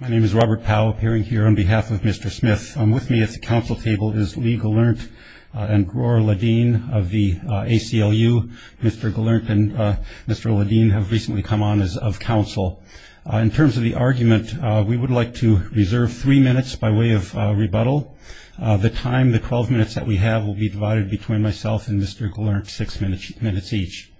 My name is Robert Powell appearing here on behalf of Mr. Smith. I'm with me at the council table is Lee Gelernt and Gaur Ladeen of the ACLU. Mr. Gelernt and Mr. Ladeen have recently come on as of council. In terms of the argument, we would like to reserve three minutes by way of rebuttal. The time, the 12 minutes that we have, will be divided between myself and Mr. Gelernt, six minutes each.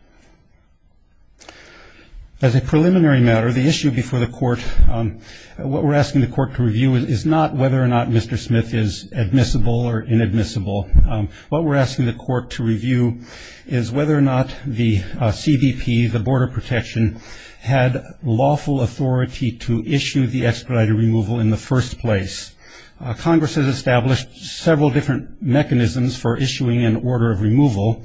As a preliminary matter, the issue before the court what we're asking the court to review is not whether or not Mr. Smith is admissible or inadmissible. What we're asking the court to review is whether or not the CBP, the Board of Protection, had lawful authority to issue the expedited removal in the first place. Congress has established several different mechanisms for issuing an order of removal.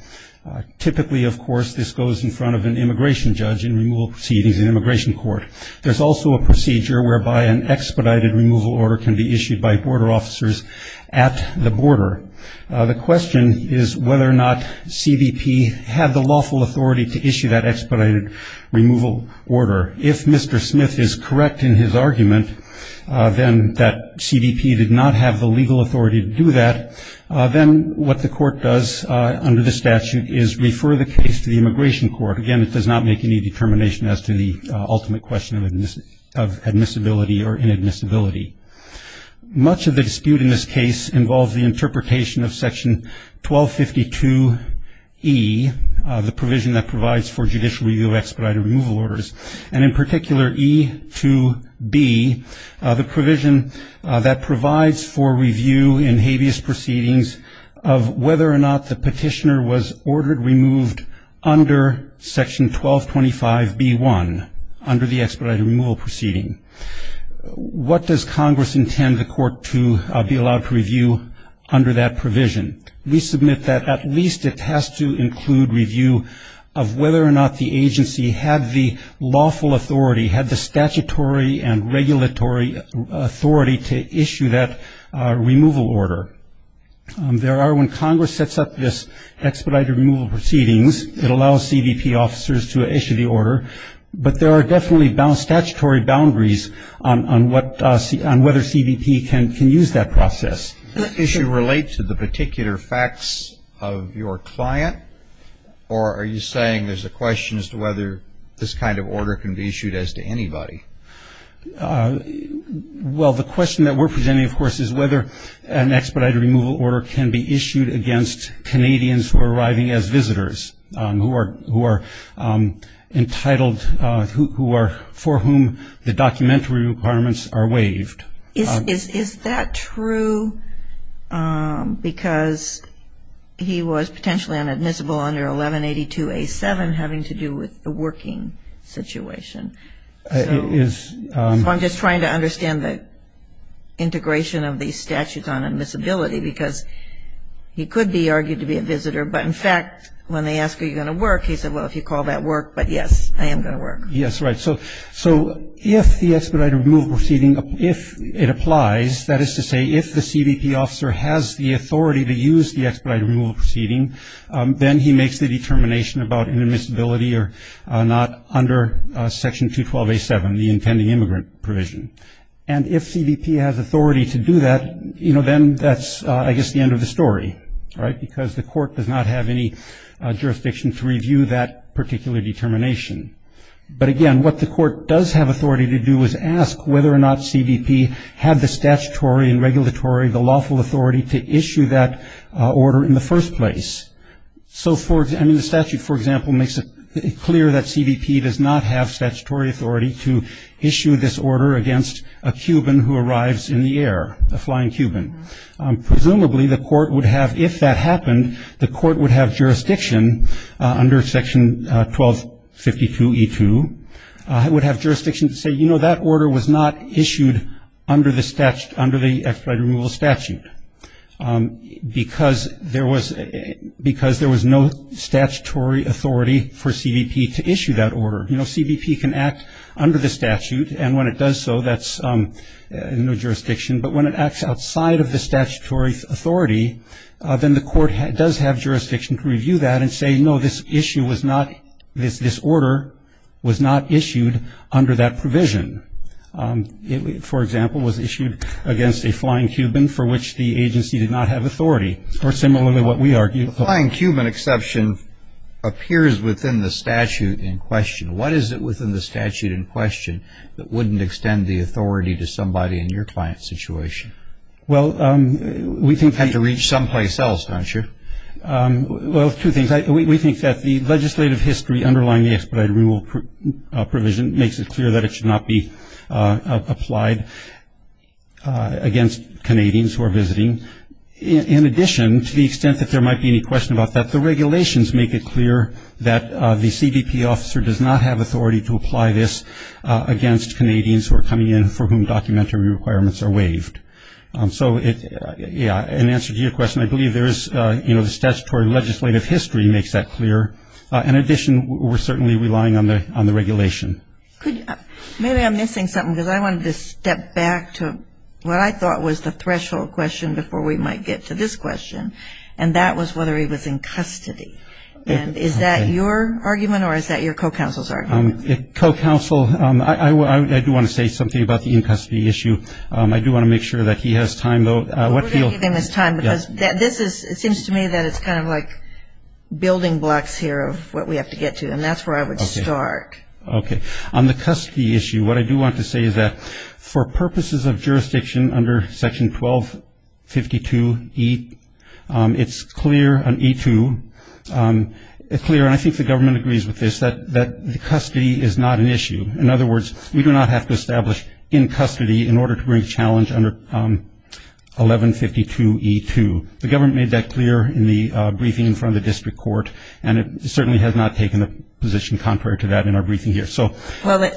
Typically, of course, this goes in front of an immigration judge in removal proceedings in immigration court. There's also a procedure whereby an expedited removal order can be issued by border officers at the border. The question is whether or not CBP had the lawful authority to issue that expedited removal order. If Mr. Smith is correct in his argument, then that CBP did not have the legal authority to do that. Then what the court does under the statute is refer the case to the immigration court. Again, it does not make any determination as to the ultimate question of admissibility or inadmissibility. Much of the dispute in this case involves the interpretation of section 1252E, the provision that provides for judicial review of expedited removal orders, and in particular E2B, the provision that provides for review in habeas proceedings of whether or not the petitioner was ordered, removed under section 1225B1, under the expedited removal proceeding. What does Congress intend the court to be allowed to review under that provision? We submit that at least it has to include review of whether or not the agency had the lawful authority, had the statutory and regulatory authority to issue that removal order. There are when Congress sets up this expedited removal proceedings, it allows CBP officers to issue the order, but there are definitely statutory boundaries on whether CBP can use that process. Does the issue relate to the particular facts of your client, or are you saying there's a question as to whether this kind of order can be issued as to anybody? Well, the question that we're presenting, of course, is whether an expedited removal order can be issued against Canadians who are arriving as visitors, who are entitled, for whom the documentary requirements are waived. Is that true because he was potentially inadmissible under 1182A7, having to do with the working situation? So I'm just trying to understand the integration of these statutes on admissibility because he could be argued to be a visitor, but in fact, when they ask, are you going to work? He said, well, if you call that work, but yes, I am going to work. Yes, right. So if the expedited removal proceeding, if it applies, that is to say, if the CBP officer has the authority to use the expedited removal proceeding, then he makes the determination about inadmissibility or not under Section 212A7, the intending immigrant provision. And if CBP has authority to do that, you know, then that's, I guess, the end of the story, right, because the court does not have any jurisdiction to review that particular determination. But again, what the court does have authority to do is ask whether or not CBP had the statutory and regulatory, the lawful authority to issue that order in the first place. So for, I mean, the statute, for example, makes it clear that CBP does not have statutory authority to issue this order against a Cuban who arrives in the air, a flying Cuban. Presumably, the court would have, if that happened, the court would have jurisdiction under Section 1252E2, would have jurisdiction to say, you know, that order was not issued under the expedited removal statute because there was no statutory authority for CBP to issue that order. You know, CBP can act under the statute, and when it does so, that's no jurisdiction. But when it acts outside of the statutory authority, then the court does have jurisdiction to review that and say, no, this issue was not, this order was not issued under that provision. It, for example, was issued against a flying Cuban for which the agency did not have authority. Or similarly, what we argue. Flying Cuban exception appears within the statute in question. What is it within the statute in question that wouldn't extend the authority to somebody in your client's situation? Well, we think. Had to reach someplace else, don't you? Well, two things. We think that the legislative history underlying the expedited removal provision makes it clear that it should not be applied against Canadians who are visiting. In addition, to the extent that there might be any question about that, the regulations make it clear that the CBP officer does not have authority to apply this against Canadians who are coming in for whom documentary requirements are waived. So, yeah, in answer to your question, I believe there is, you know, the statutory legislative history makes that clear. In addition, we're certainly relying on the regulation. Could you, maybe I'm missing something because I wanted to step back to what I thought was the threshold question before we might get to this question. And that was whether he was in custody. And is that your argument or is that your co-counsel's argument? Co-counsel, I do want to say something about the in-custody issue. I do want to make sure that he has time, though. What field? We're going to give him his time because this is, it seems to me that it's kind of like building blocks here of what we have to get to. And that's where I would start. Okay. On the custody issue, what I do want to say is that for purposes of jurisdiction under section 1252E, it's clear on E2, it's clear, and I think the government agrees with this, that the custody is not an issue. In other words, we do not have to establish in custody in order to bring challenge under 1152E2. The government made that clear in the briefing in front of the district court. And it certainly has not taken a position contrary to that in our briefing here. So. Well,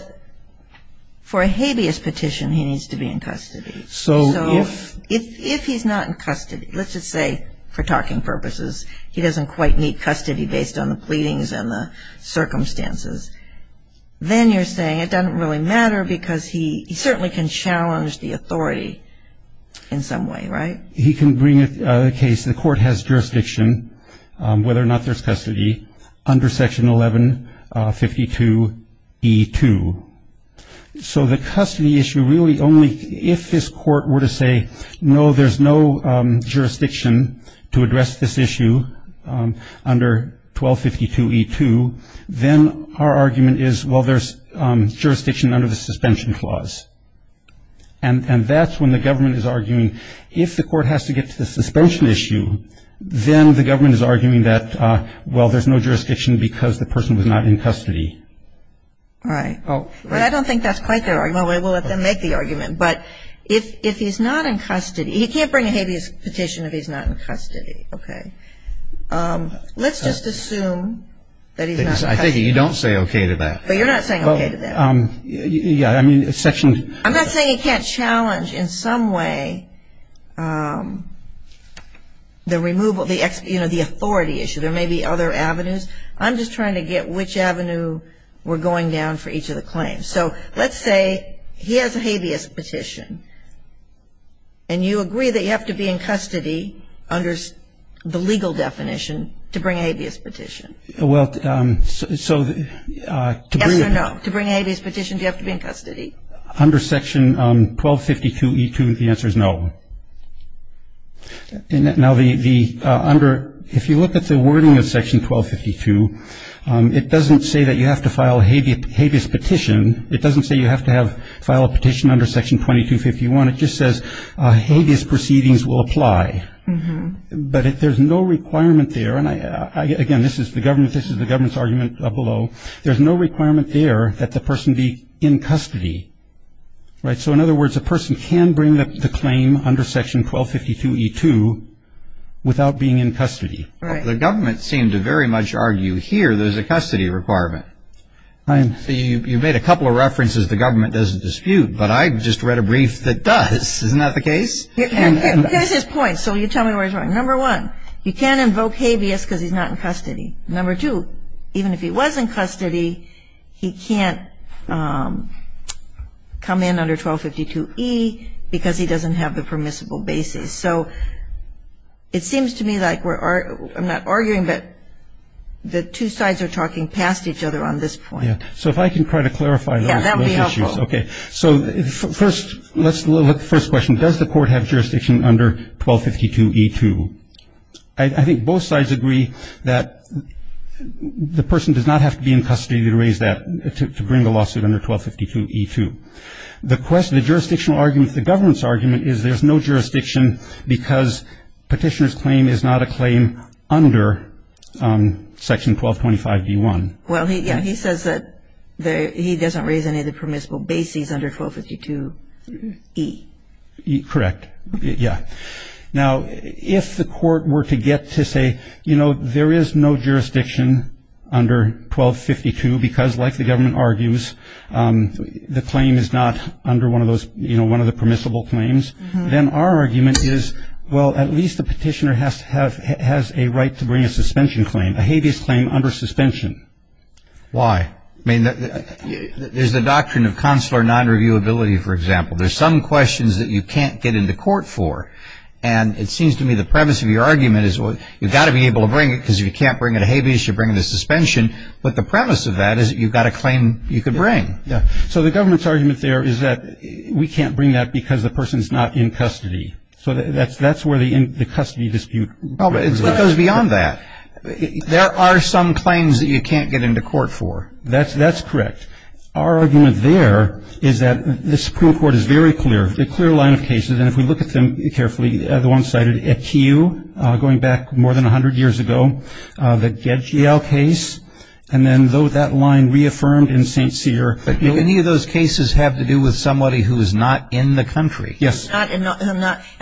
for a habeas petition, he needs to be in custody. So if he's not in custody, let's just say for talking purposes, he doesn't quite meet custody based on the pleadings and the circumstances, then you're saying it doesn't really matter because he certainly can challenge the authority in some way, right? He can bring a case. The court has jurisdiction, whether or not there's custody under section 1152E2. So the custody issue really only, if this court were to say, no, there's no jurisdiction to address this issue under 1252E2, then our argument is, well, there's jurisdiction under the suspension clause. And that's when the government is arguing, if the court has to get to the suspension issue, then the government is arguing that, well, there's no jurisdiction because the person was not in custody. All right. Well, I don't think that's quite their argument. We'll let them make the argument. But if he's not in custody, he can't bring a habeas petition if he's not in custody, okay? Let's just assume that he's not in custody. I think you don't say okay to that. But you're not saying okay to that. Yeah, I mean, section. I'm not saying he can't challenge in some way the removal, you know, the authority issue. There may be other avenues. I'm just trying to get which avenue we're going down for each of the claims. So let's say he has a habeas petition. And you agree that you have to be in custody under the legal definition to bring a habeas petition. Well, so. Yes or no? To bring a habeas petition, do you have to be in custody? Under section 1252E2, the answer is no. Now, if you look at the wording of section 1252, it doesn't say that you have to file a habeas petition. It doesn't say you have to file a petition under section 2251. It just says habeas proceedings will apply. But if there's no requirement there, and again, this is the government's argument below. There's no requirement there that the person be in custody, right? So in other words, a person can bring the claim under section 1252E2 without being in custody. Right. The government seemed to very much argue here there's a custody requirement. You made a couple of references the government doesn't dispute, but I just read a brief that does. Isn't that the case? Here's his point. So you tell me where he's going. Number one, you can't invoke habeas because he's not in custody. Number two, even if he was in custody, he can't come in under 1252E because he doesn't have the permissible basis. So it seems to me like we're, I'm not arguing, but the two sides are talking past each other on this point. Yeah. So if I can try to clarify those issues. Okay. So first, let's look at the first question. Does the court have jurisdiction under 1252E2? I think both sides agree that the person does not have to be in custody to raise that, to bring the lawsuit under 1252E2. The question, the jurisdictional argument, the government's argument is there's no jurisdiction because petitioner's claim is not a claim under section 1225D1. Well, yeah, he says that he doesn't raise any of the permissible basis under 1252E. Correct. Yeah. Now, if the court were to get to say, you know, there is no jurisdiction under 1252 because like the government argues, the claim is not under one of those, you know, one of the permissible claims. Then our argument is, well, at least the petitioner has to have, has a right to bring a suspension claim, a habeas claim under suspension. Why? I mean, there's the doctrine of consular non-reviewability, for example. There's some questions that you can't get into court for. And it seems to me the premise of your argument is, well, you've got to be able to bring it because if you can't bring it a habeas, you bring the suspension. But the premise of that is you've got a claim you could bring. Yeah. So the government's argument there is that we can't bring that because the person's not in custody. So that's where the custody dispute goes beyond that. There are some claims that you can't get into court for. That's correct. Our argument there is that the Supreme Court is very clear, a clear line of cases. And if we look at them carefully, the one cited at Kew, going back more than 100 years ago, the Gedgiel case. And then though that line reaffirmed in St. Cyr, any of those cases have to do with somebody who is not in the country. Yes. In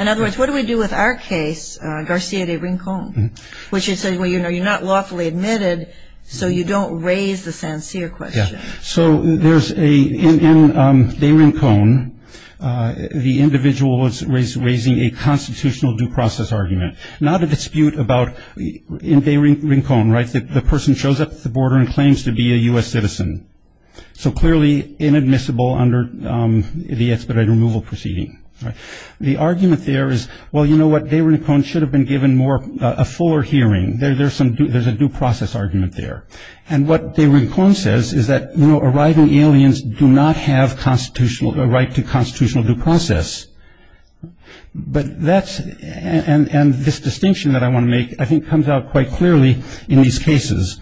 other words, what do we do with our case, Garcia de Rincon, which is, well, you know, you're not lawfully admitted. So you don't raise the St. Cyr question. So there's a, in de Rincon, the individual was raising a constitutional due process argument. Not a dispute about, in de Rincon, right, the person shows up at the border and claims to be a U.S. citizen. So clearly inadmissible under the expedited removal proceeding. The argument there is, well, you know what, de Rincon should have been given more, a fuller hearing. There's some, there's a due process argument there. And what de Rincon says is that, you know, arriving aliens do not have constitutional, a right to constitutional due process. But that's, and this distinction that I want to make, I think comes out quite clearly in these cases.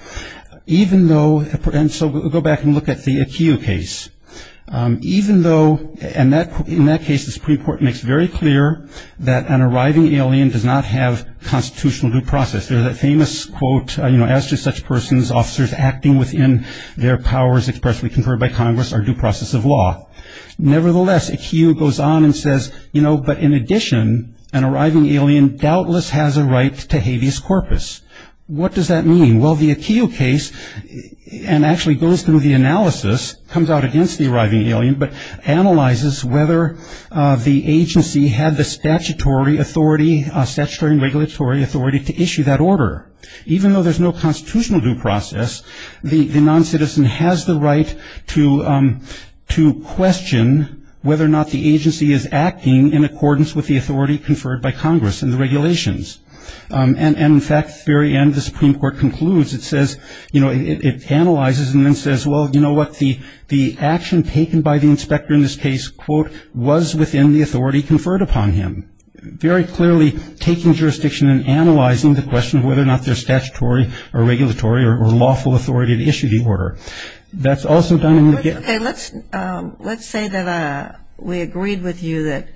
Even though, and so we'll go back and look at the Kew case. Even though, and that, in that case, the Supreme Court makes very clear that an arriving alien does not have constitutional due process. There's a famous quote, you know, as to such persons, officers acting within their powers expressly conferred by Congress are due process of law. Nevertheless, a Kew goes on and says, you know, but in addition, an arriving alien doubtless has a right to habeas corpus. What does that mean? Well, the Kew case, and actually goes through the analysis, comes out against the arriving alien, but analyzes whether the agency had the statutory authority, statutory and regulatory authority to issue that order, even though there's no constitutional due process, the non-citizen has the right to, to question whether or not the agency is acting in accordance with the authority conferred by Congress and the regulations. And in fact, at the very end, the Supreme Court concludes, it says, you know, it analyzes and then says, well, you know what, the, the action taken by the inspector in this case, quote, was within the authority conferred upon him. Very clearly taking jurisdiction and analyzing the question of whether or not they're statutory or regulatory or lawful authority to issue the order. That's also done in the case. Okay, let's, let's say that we agreed with you that,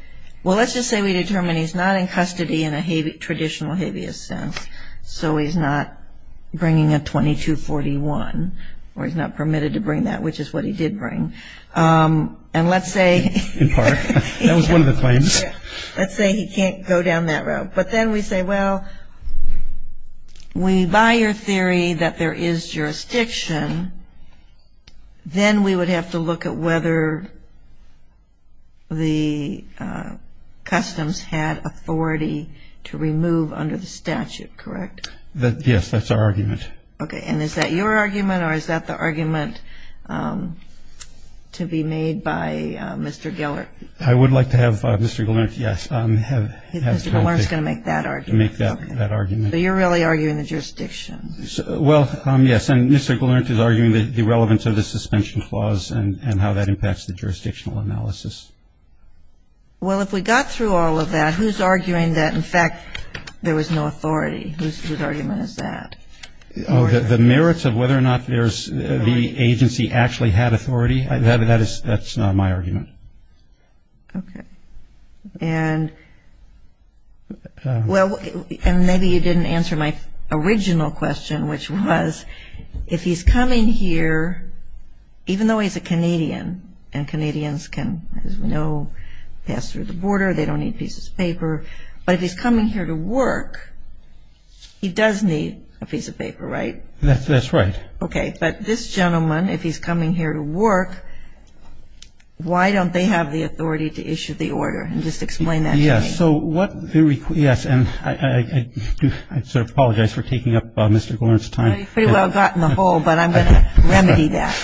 well, let's just say we determined he's not in custody in a habeas, traditional habeas sense. So he's not bringing a 2241, or he's not permitted to bring that, which is what he did bring. And let's say, in part, that was one of the claims. Let's say he can't go down that road. But then we say, well, we, by your theory that there is jurisdiction, then we would have to look at whether the customs had authority to remove under the statute, correct? That, yes, that's our argument. Okay, and is that your argument, or is that the argument to be made by Mr. Geller? I would like to have Mr. Geller, yes, have. Mr. Geller is going to make that argument. Make that, that argument. So you're really arguing the jurisdiction. Well, yes, and Mr. Geller is arguing the relevance of the suspension clause and how that impacts the jurisdictional analysis. Well, if we got through all of that, who's arguing that, in fact, there was no authority? Whose, whose argument is that? Oh, the merits of whether or not there's, the agency actually had authority? That, that is, that's not my argument. Okay, and, well, and maybe you didn't answer my original question, which was, if he's coming here, even though he's a Canadian, and Canadians can, as we know, pass through the border, they don't need pieces of paper, but if he's coming here to work, he does need a piece of paper, right? That's, that's right. Okay, but this gentleman, if he's coming here to work, why don't they have the authority to issue the order? And just explain that to me. Yes, so what the, yes, and I, I, I do, I sort of apologize for taking up Mr. Geller's time. Well, you pretty well got in the hole, but I'm going to remedy that.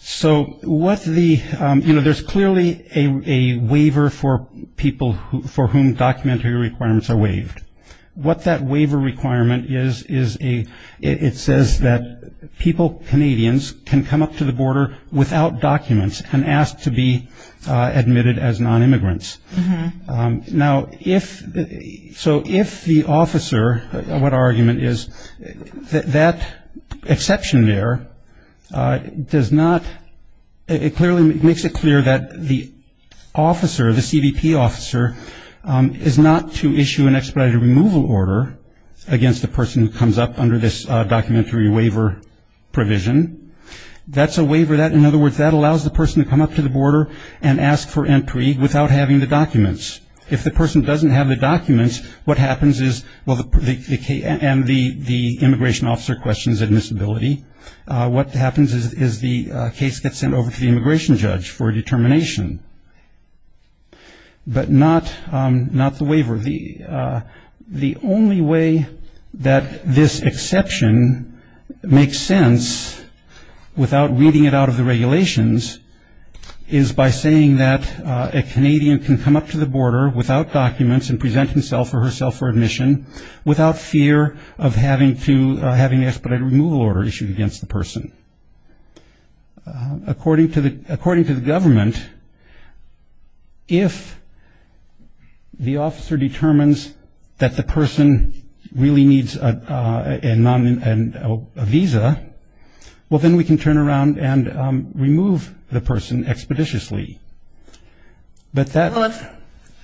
So what the, you know, there's clearly a, a waiver for people who, for whom documentary requirements are waived. What that waiver requirement is, is a, it, it says that people, Canadians, can come up to the border without documents and asked to be admitted as non-immigrants. Now, if, so if the officer, what our argument is, that, that exception there does not, it clearly makes it clear that the officer, the CBP officer, is not to issue an expedited removal order against the person who comes up under this documentary waiver provision. That's a waiver that, in other words, that allows the person to come up to the border and ask for entry without having the documents. If the person doesn't have the documents, what happens is, well, the, the, and the, the immigration officer questions admissibility. What happens is, is the case gets sent over to the immigration judge for a determination, but not, not the waiver. The, the only way that this exception makes sense without reading it out of the regulations is by saying that a Canadian can come up to the border without documents and present himself or herself for admission without fear of having to, having an expedited removal order issued against the person. According to the, according to the government, if the officer determines that the person really needs a, a, a non, a visa, well, then we can turn around and remove the person expeditiously. But that, well, if,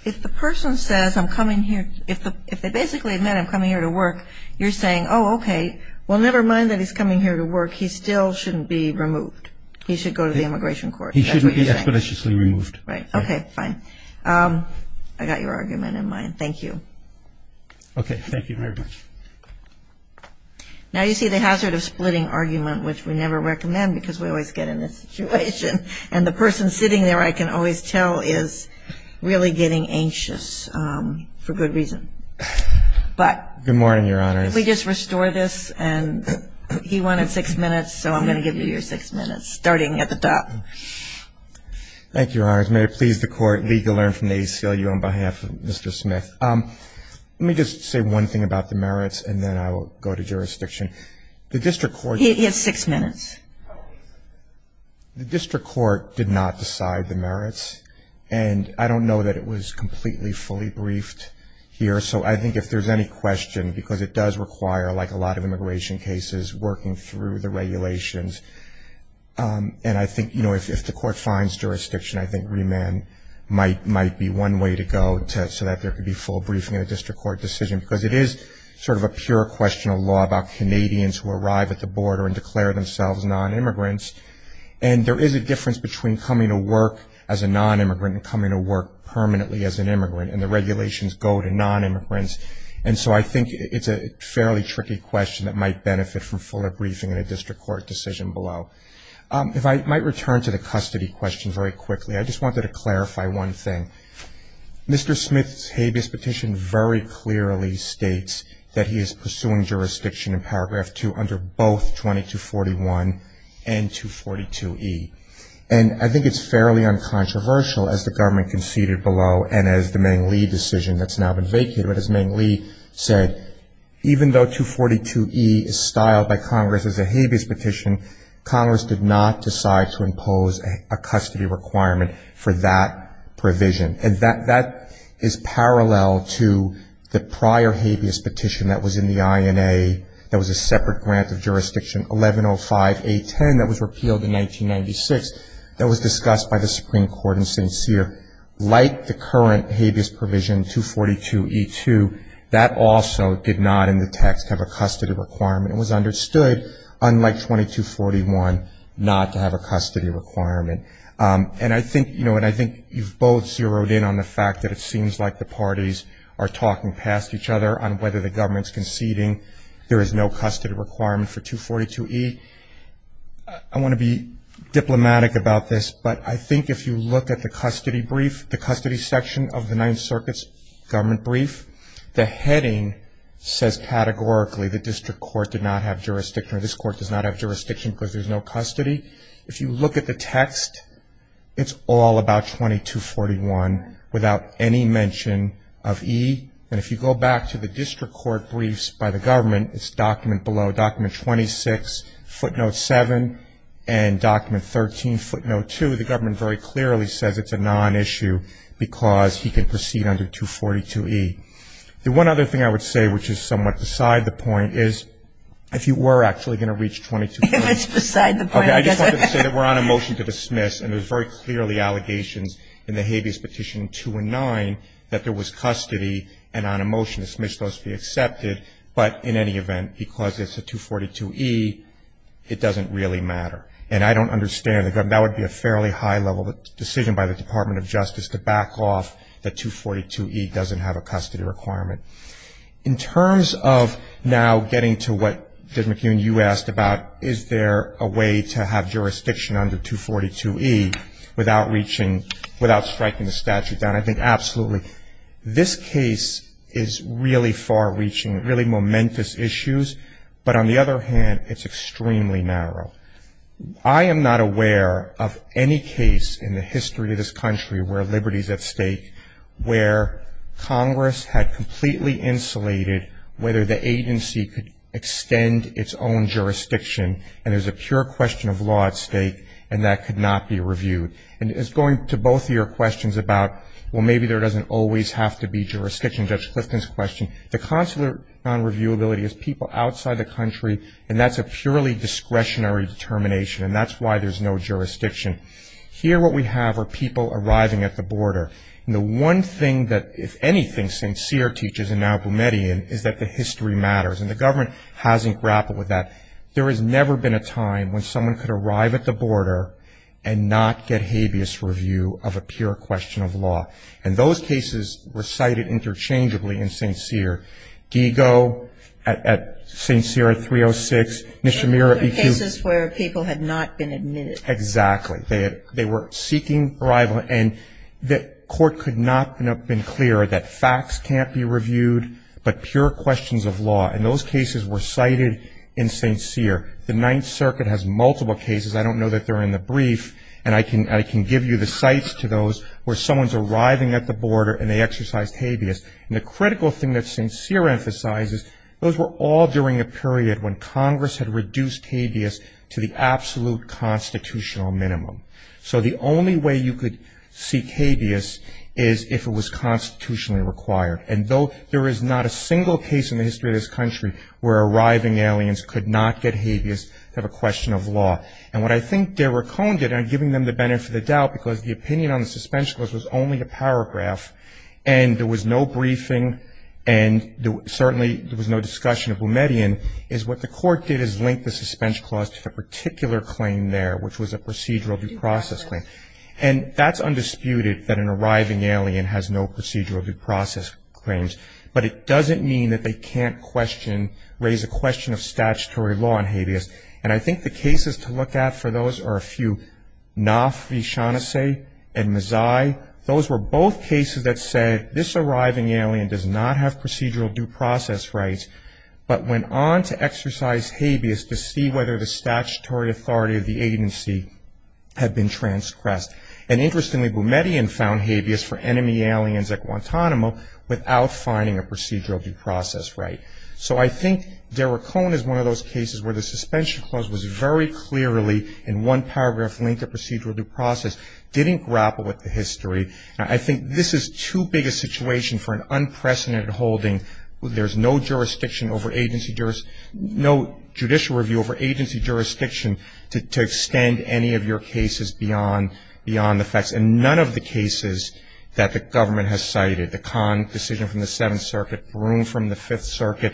if the person says, I'm coming here, if the, if they basically meant I'm coming here to work, you're saying, oh, okay, well, never mind that he's coming here to work, he still shouldn't be removed. He should go to the immigration court. He shouldn't be expeditiously removed. Right. Okay, fine. I got your argument in mind. Thank you. Okay. Thank you very much. Now, you see, the hazard of splitting argument, which we never recommend because we always get in this situation, and the person sitting there, I can always tell, is really getting anxious for good reason. But. Good morning, Your Honors. If we just restore this, and he wanted six minutes, so I'm going to give you your six minutes, starting at the top. Thank you, Your Honors. May it please the Court, legal learn from the ACLU on behalf of Mr. Smith. Let me just say one thing about the merits, and then I will go to jurisdiction. The district court. He has six minutes. The district court did not decide the merits. And I don't know that it was completely, fully briefed here. So I think if there's any question, because it does require, like a lot of immigration cases, working through the regulations. And I think, you know, if the Court finds jurisdiction, I think remand might be one way to go, so that there could be full briefing in a district court decision. Because it is sort of a pure question of law about Canadians who arrive at the border and declare themselves non-immigrants. And there is a difference between coming to work as a non-immigrant and coming to work permanently as an immigrant. And the regulations go to non-immigrants. And so I think it's a fairly tricky question that might benefit from fuller briefing in a district court decision below. If I might return to the custody questions very quickly. I just wanted to clarify one thing. Mr. Smith's habeas petition very clearly states that he is pursuing jurisdiction in Paragraph 2 under both 2241 and 242E. And I think it's fairly uncontroversial as the government conceded below, and as the Meng Lee decision that's now been vacated. But as Meng Lee said, even though 242E is styled by Congress as a habeas petition, Congress did not decide to impose a custody requirement for that provision. And that is parallel to the prior habeas petition that was in the INA, that was a separate grant of jurisdiction, 1105A10, that was repealed in 1996, that was discussed by the Supreme Court in St. Cyr. Like the current habeas provision, 242E2, that also did not in the text have a custody requirement. It was understood, unlike 2241, not to have a custody requirement. And I think, you know, and I think you've both zeroed in on the fact that it seems like the parties are talking past each other on whether the government's conceding there is no custody requirement for 242E. I want to be diplomatic about this, but I think if you look at the custody brief, the custody section of the Ninth Circuit's government brief, the heading says categorically the district court did not have jurisdiction, or this court does not have jurisdiction because there's no custody. If you look at the text, it's all about 2241 without any mention of E. And if you go back to the district court briefs by the government, it's document below, document 26, footnote 7, and document 13, footnote 2, the government very clearly says it's a nonissue because he can proceed under 242E. The one other thing I would say, which is somewhat beside the point, is if you were actually going to reach 2241. It's beside the point. Okay, I just wanted to say that we're on a motion to dismiss, and there's very clearly allegations in the habeas petition 2 and 9 that there was custody, and on a motion to dismiss those to be accepted, but in any event, because it's a 242E, it doesn't really matter. And I don't understand the government. That would be a fairly high-level decision by the Department of Justice to back off that 242E doesn't have a custody requirement. In terms of now getting to what, Judge McEwen, you asked about, is there a way to have jurisdiction under 242E without striking the statute down? I think absolutely. This case is really far-reaching, really momentous issues, but on the other hand, it's extremely narrow. I am not aware of any case in the history of this country where liberty is at stake, where Congress had completely insulated whether the agency could extend its own jurisdiction, and there's a pure question of law at stake, and that could not be reviewed. And it's going to both of your questions about, well, maybe there doesn't always have to be jurisdiction, Judge Clifton's question. The consular non-reviewability is people outside the country, and that's a purely discretionary determination, and that's why there's no jurisdiction. Here what we have are people arriving at the border, and the one thing that, if anything, St. Cyr teaches, and now Boumediene, is that the history matters, and the government hasn't grappled with that. There has never been a time when someone could arrive at the border and not get habeas review of a pure question of law. And those cases were cited interchangeably in St. Cyr. Gigo at St. Cyr at 306, Nishimura at EQ. Those were cases where people had not been admitted. Exactly. They were seeking arrival, and the court could not have been clearer that facts can't be reviewed, but pure questions of law. And those cases were cited in St. Cyr. The Ninth Circuit has multiple cases. I don't know that they're in the brief, and I can give you the sites to those where someone's arriving at the border and they exercise habeas. And the critical thing that St. Cyr emphasizes, those were all during a period when Congress had reduced habeas to the absolute constitutional minimum. So the only way you could seek habeas is if it was constitutionally required. And though there is not a single case in the history of this country where arriving aliens could not get habeas to have a question of law. And what I think Derek Cohn did, and I'm giving them the benefit of the doubt, because the opinion on the Suspension Clause was only a paragraph, and there was no briefing, and certainly there was no discussion of Boumediene, is what the court did is link the Suspension Clause to a particular claim there, which was a procedural due process claim. And that's undisputed, that an arriving alien has no procedural due process claims. But it doesn't mean that they can't question, raise a question of statutory law on habeas. And I think the cases to look at for those are a few, Knopf v. Shaughnessy and Mazzei. Those were both cases that said this arriving alien does not have procedural due process rights, but went on to exercise habeas to see whether the statutory authority of the agency had been transgressed. And interestingly, Boumediene found habeas for enemy aliens at Guantanamo without finding a procedural due process right. So I think Derek Cohn is one of those cases where the Suspension Clause was very clearly, in one paragraph, linked to procedural due process, didn't grapple with the history. I think this is too big a situation for an unprecedented holding. There's no jurisdiction over agency jurisdiction, no judicial review over agency jurisdiction to extend any of your cases beyond the facts. And none of the cases that the government has cited, the Cohn decision from the Seventh Circuit, Broome from the Fifth Circuit,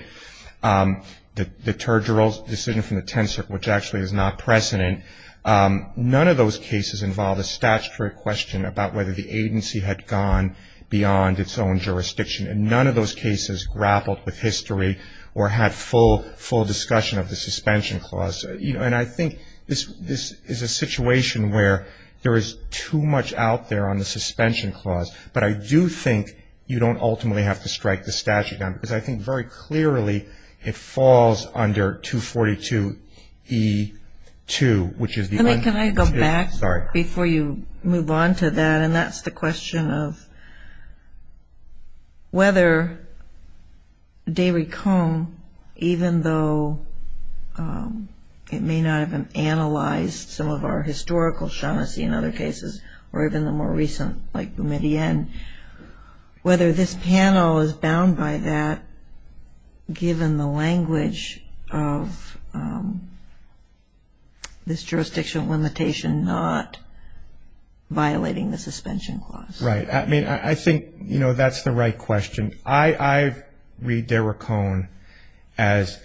the Turgerell decision from the Tenth Circuit, which actually is not precedent, none of those cases involve a statutory question about whether the agency had gone beyond its own jurisdiction. And none of those cases grappled with history or had full discussion of the Suspension Clause. And I think this is a situation where there is too much out there on the Suspension Clause. But I do think you don't ultimately have to strike the statute down, because I think very clearly it falls under 242E2, which is the unconstitutional. Before you move on to that, and that's the question of whether Derry Cohn, even though it may not have analyzed some of our historical Shaughnessy in other cases, or even the more recent like Boumediene, whether this panel is bound by that, given the language of this jurisdictional limitation not violating the Suspension Clause. Right. I mean, I think, you know, that's the right question. I read Derry Cohn as,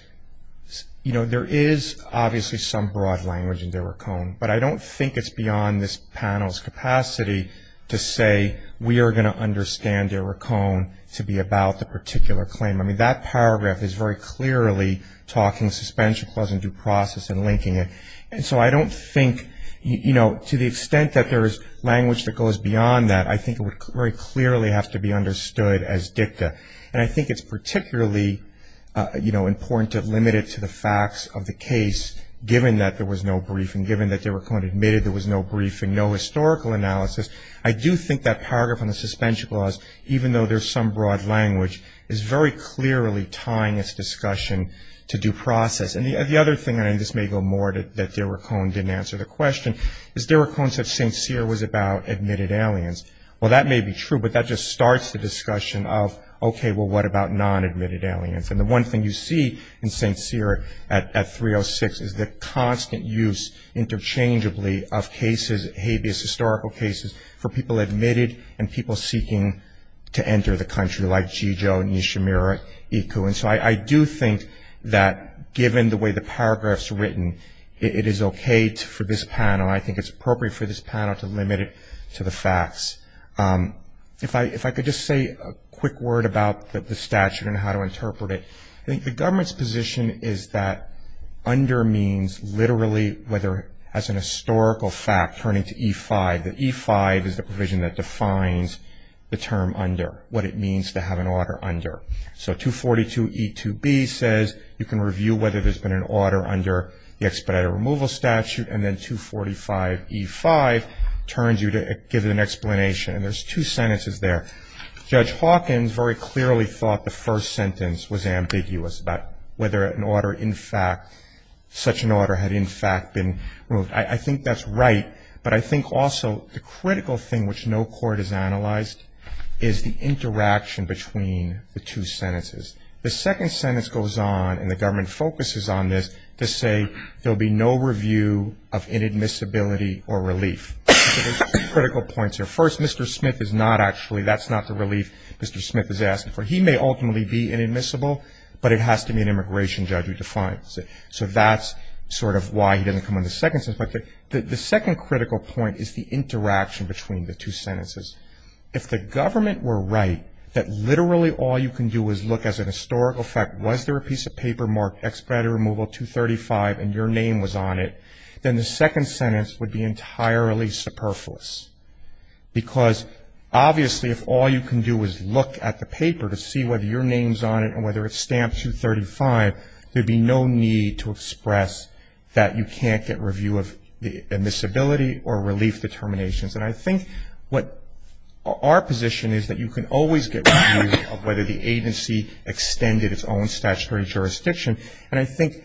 you know, there is obviously some broad language in Derry Cohn, but I don't think it's beyond this panel's capacity to say we are going to understand Derry Cohn to be about the particular claim. I mean, that paragraph is very clearly talking Suspension Clause in due process and linking it. And so I don't think, you know, to the extent that there is language that goes beyond that, I think it would very clearly have to be understood as dicta. And I think it's particularly, you know, important to limit it to the facts of the case, given that there was no briefing, given that Derry Cohn admitted there was no briefing, no historical analysis. I do think that paragraph on the Suspension Clause, even though there is some broad language, is very clearly tying its discussion to due process. And the other thing, and this may go more that Derry Cohn didn't answer the question, is Derry Cohn said St. Cyr was about admitted aliens. Well, that may be true, but that just starts the discussion of, okay, well, what about non-admitted aliens? And the one thing you see in St. Cyr at 306 is the constant use interchangeably of cases, habeas, historical cases, for people admitted and people seeking to enter the country, like G. Joe and Nishimura Iku. And so I do think that given the way the paragraph is written, it is okay for this panel, I think it's appropriate for this panel to limit it to the facts. If I could just say a quick word about the statute and how to interpret it. I think the government's position is that under means, literally, whether as an historical fact turning to E5, that E5 is the provision that defines the term under, what it means to have an order under. So 242E2B says you can review whether there's been an order under the expedited removal statute, and then 245E5 turns you to give an explanation, and there's two sentences there. Judge Hawkins very clearly thought the first sentence was ambiguous about whether an order in fact, such an order had in fact been removed. I think that's right. But I think also the critical thing which no court has analyzed is the interaction between the two sentences. The second sentence goes on, and the government focuses on this, to say there will be no review of inadmissibility or relief. So there's two critical points here. First, Mr. Smith is not actually, that's not the relief Mr. Smith is asking for. He may ultimately be inadmissible, but it has to be an immigration judge who defines it. So that's sort of why he doesn't come on the second sentence. The second critical point is the interaction between the two sentences. If the government were right, that literally all you can do is look as an historical fact, was there a piece of paper marked expedited removal 235 and your name was on it, then the second sentence would be entirely superfluous. Because obviously if all you can do is look at the paper to see whether your name's on it and whether it's stamped 235, there'd be no need to express that you can't get review of the admissibility or relief determinations. And I think what our position is that you can always get review of whether the agency extended its own statutory jurisdiction. And I think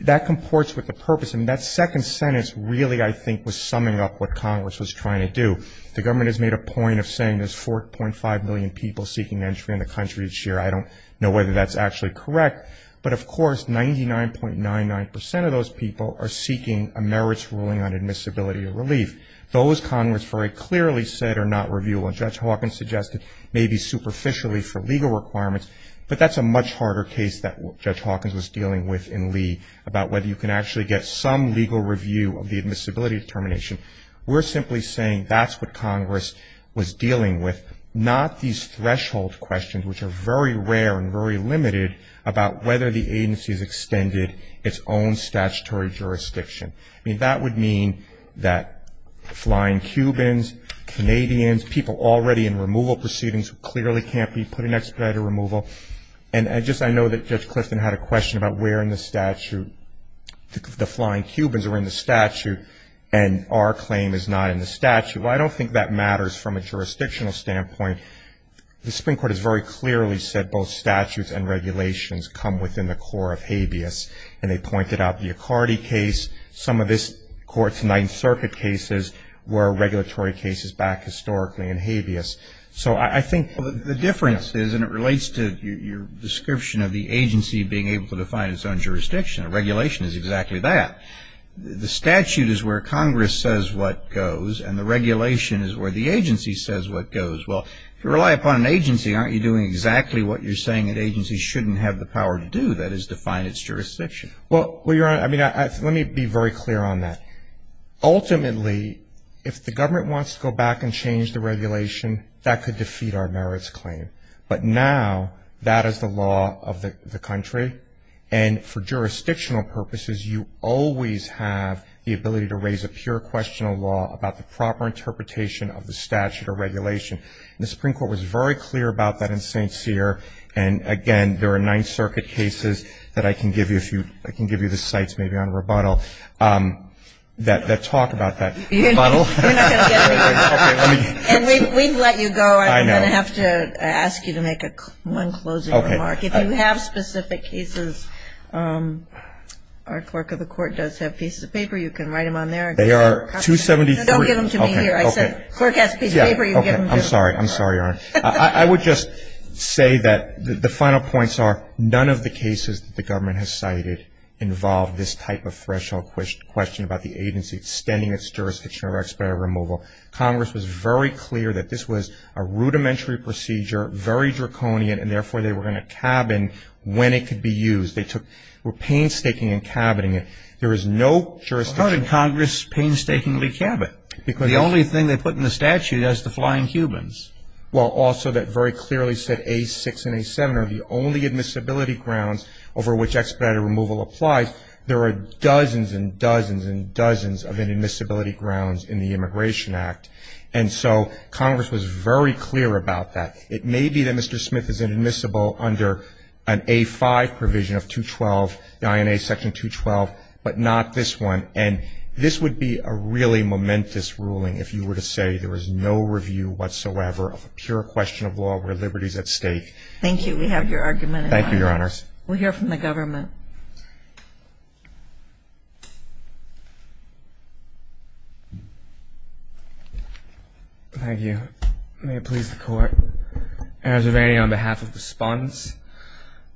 that comports with the purpose. And that second sentence really I think was summing up what Congress was trying to do. The government has made a point of saying there's 4.5 million people seeking entry in the country each year. I don't know whether that's actually correct. But of course 99.99% of those people are seeking a merits ruling on admissibility or relief. Those Congress very clearly said are not reviewable. Judge Hawkins suggested maybe superficially for legal requirements, but that's a much harder case that Judge Hawkins was dealing with in Lee about whether you can actually get some legal review of the admissibility determination. We're simply saying that's what Congress was dealing with, not these threshold questions which are very rare and very limited about whether the agency has extended its own statutory jurisdiction. I mean that would mean that flying Cubans, Canadians, people already in removal proceedings who clearly can't be put in expedited removal. And just I know that Judge Clifton had a question about where in the statute, the flying Cubans are in the statute and our claim is not in the statute. Well, I don't think that matters from a jurisdictional standpoint. The Supreme Court has very clearly said both statutes and regulations come within the core of habeas. And they pointed out the Icardi case. Some of this Court's Ninth Circuit cases were regulatory cases back historically in habeas. So I think the difference is and it relates to your description of the agency being able to define its own jurisdiction. A regulation is exactly that. The statute is where Congress says what goes and the regulation is where the agency says what goes. Well, if you rely upon an agency, aren't you doing exactly what you're saying that agencies shouldn't have the power to do, that is define its jurisdiction? Well, Your Honor, I mean let me be very clear on that. Ultimately, if the government wants to go back and change the regulation, that could defeat our merits claim. But now that is the law of the country. And for jurisdictional purposes, you always have the ability to raise a pure question of law about the proper interpretation of the statute or regulation. And the Supreme Court was very clear about that in St. Cyr. And again, there are Ninth Circuit cases that I can give you the cites maybe on rebuttal that talk about that rebuttal. And we've let you go. I'm going to have to ask you to make one closing remark. If you have specific cases, our clerk of the court does have pieces of paper. You can write them on there. They are 273. Don't give them to me here. I said the clerk has a piece of paper. I'm sorry. I'm sorry, Your Honor. I would just say that the final points are none of the cases that the government has cited involve this type of threshold question about the agency extending its jurisdiction or expiry removal. Congress was very clear that this was a rudimentary procedure, very draconian, and therefore they were going to cabin when it could be used. They were painstaking in cabining it. There is no jurisdiction. How did Congress painstakingly cabin? Because the only thing they put in the statute is the flying humans. Well, also that very clearly said A6 and A7 are the only admissibility grounds over which expedited removal applies. There are dozens and dozens and dozens of admissibility grounds in the Immigration Act. And so Congress was very clear about that. It may be that Mr. Smith is inadmissible under an A5 provision of 212, the INA section 212, but not this one. And this would be a really momentous ruling if you were to say there was no review whatsoever of a pure question of law where liberty is at stake. Thank you. We have your argument in mind. Thank you, Your Honors. We'll hear from the government. Thank you. May it please the Court. Your Honor, on behalf of the respondents,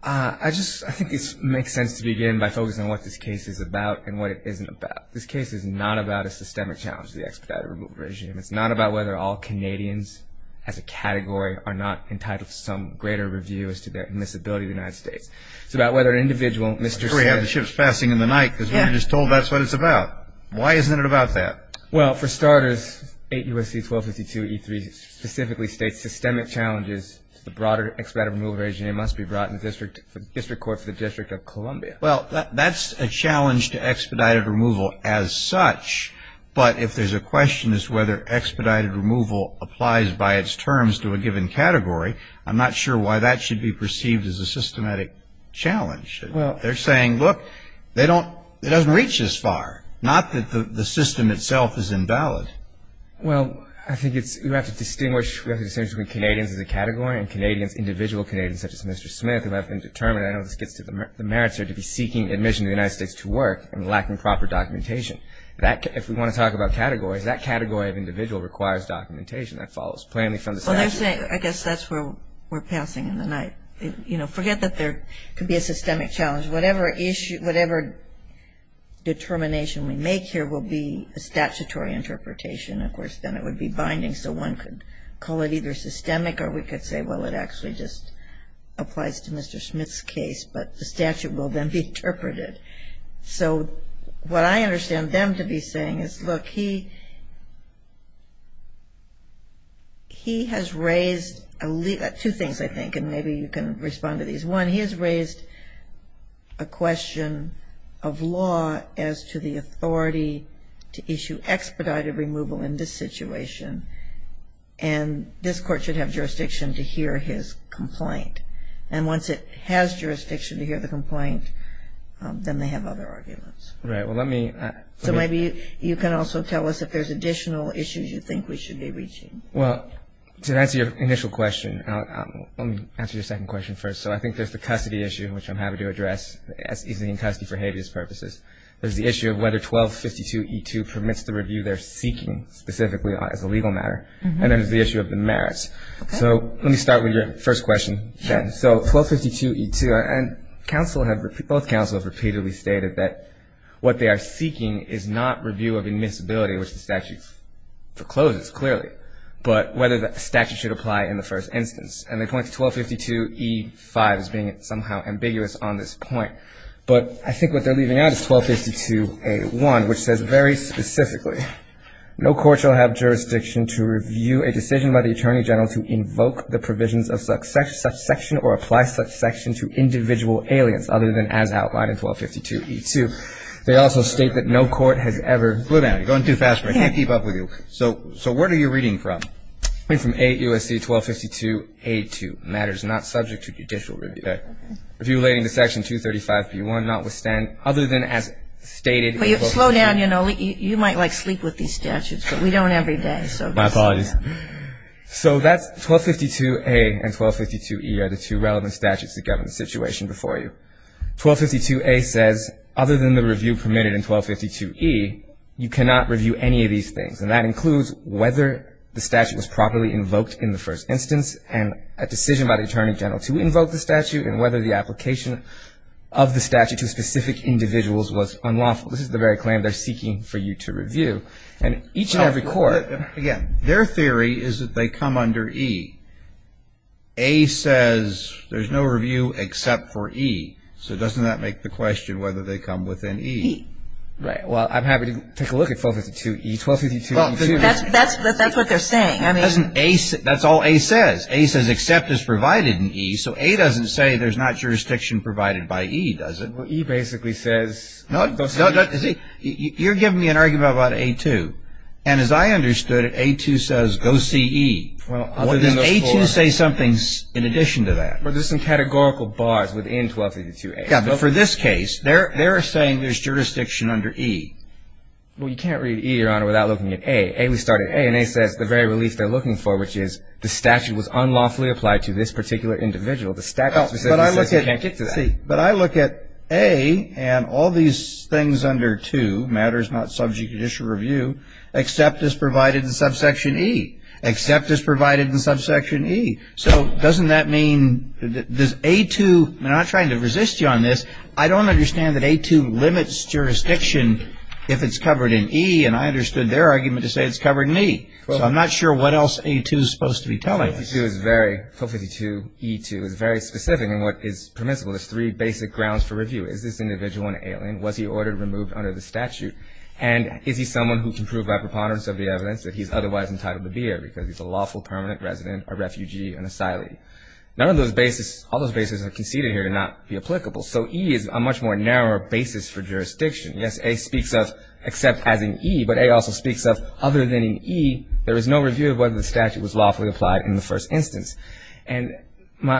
I think it makes sense to begin by focusing on what this case is about and what it isn't about. This case is not about a systemic challenge to the expedited removal regime. It's not about whether all Canadians as a category are not entitled to some greater review as to their admissibility to the United States. It's about whether an individual, Mr. Smith. I'm sure we have the ships passing in the night because we were just told that's what it's about. Why isn't it about that? Well, for starters, 8 U.S.C. 1252E3 specifically states systemic challenges to the broader expedited removal regime. It must be brought to the District Court for the District of Columbia. Well, that's a challenge to expedited removal as such. But if there's a question as to whether expedited removal applies by its terms to a given category, I'm not sure why that should be perceived as a systematic challenge. They're saying, look, it doesn't reach this far. Not that the system itself is invalid. Well, I think it's we have to distinguish, we have to distinguish between Canadians as a category and Canadians, individual Canadians such as Mr. Smith who have been determined, I know this gets to the merits here, to be seeking admission to the United States to work and lacking proper documentation. That, if we want to talk about categories, that category of individual requires documentation that follows plainly from the statute. I guess that's where we're passing in the night. You know, forget that there could be a systemic challenge. Whatever issue, whatever determination we make here will be a statutory interpretation. Of course, then it would be binding, so one could call it either systemic or we could say, well, it actually just applies to Mr. Smith's case, but the statute will then be interpreted. So what I understand them to be saying is, look, he has raised two things, I think, and maybe you can respond to these. One, he has raised a question of law as to the authority to issue expedited removal in this situation and this court should have jurisdiction to hear his complaint. And once it has jurisdiction to hear the complaint, then they have other arguments. Right. Well, let me. So maybe you can also tell us if there's additional issues you think we should be reaching. Well, to answer your initial question, let me answer your second question first. So I think there's the custody issue, which I'm happy to address, as easing in custody for habeas purposes. There's the issue of whether 1252E2 permits the review they're seeking specifically as a legal matter. And then there's the issue of the merits. So let me start with your first question, Jen. So 1252E2, and both counsels have repeatedly stated that what they are seeking is not review of admissibility, which the statute forecloses clearly, but whether the statute should apply in the first instance. And they point to 1252E5 as being somehow ambiguous on this point. But I think what they're leaving out is 1252A1, which says very specifically, no court shall have jurisdiction to review a decision by the attorney general to invoke the provisions of such section or apply such section to individual aliens other than as outlined in 1252E2. They also state that no court has ever. Slow down. You're going too fast for me. I can't keep up with you. So where are you reading from? I'm reading from AUSC 1252A2, matters not subject to judicial review. Okay. Review relating to section 235B1, not withstand other than as stated. Slow down. You know, you might like sleep with these statutes, but we don't every day. My apologies. So that's 1252A and 1252E are the two relevant statutes that govern the situation before you. 1252A says other than the review permitted in 1252E, you cannot review any of these things. And that includes whether the statute was properly invoked in the first instance and a decision by the attorney general to invoke the statute and whether the application of the statute to specific individuals was unlawful. This is the very claim they're seeking for you to review. And each and every court. Again, their theory is that they come under E. A says there's no review except for E. So doesn't that make the question whether they come within E? E. Right. Well, I'm happy to take a look at 1252E. That's what they're saying. That's all A says. A says except is provided in E. So A doesn't say there's not jurisdiction provided by E, does it? Well, E basically says go see E. You're giving me an argument about A2. And as I understood it, A2 says go see E. Does A2 say something in addition to that? There's some categorical bars within 1252A. For this case, they're saying there's jurisdiction under E. Well, you can't read E, Your Honor, without looking at A. A, we start at A, and A says the very relief they're looking for, which is the statute was unlawfully applied to this particular individual. The statute specifically says you can't get to that. But I look at A and all these things under 2, matters not subject to judicial review, except is provided in subsection E. Except is provided in subsection E. So doesn't that mean that A2, I'm not trying to resist you on this, I don't understand that A2 limits jurisdiction if it's covered in E, and I understood their argument to say it's covered in E. So I'm not sure what else A2 is supposed to be telling us. 1252E2 is very specific in what is permissible. There's three basic grounds for review. Is this individual an alien? Was he ordered removed under the statute? And is he someone who can prove by preponderance of the evidence that he's otherwise entitled to be here because he's a lawful permanent resident, a refugee, an asylee? None of those bases, all those bases are conceded here to not be applicable. So E is a much more narrow basis for jurisdiction. Yes, A speaks of except as in E, but A also speaks of other than in E, there is no review of whether the statute was lawfully applied in the first instance. And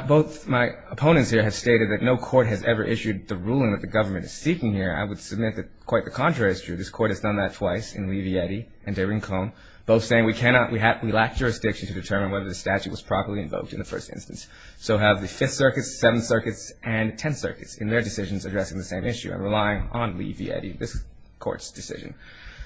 both my opponents here have stated that no court has ever issued the ruling that the government is seeking here. I would submit that quite the contrary is true. This court has done that twice in Levy, Eddy and DeRincon, both saying we cannot, we lack jurisdiction to determine whether the statute was properly invoked in the first instance. So have the Fifth Circuit, Seventh Circuit, and Tenth Circuit in their decisions addressing the same issue and relying on Levy, Eddy, this court's decision.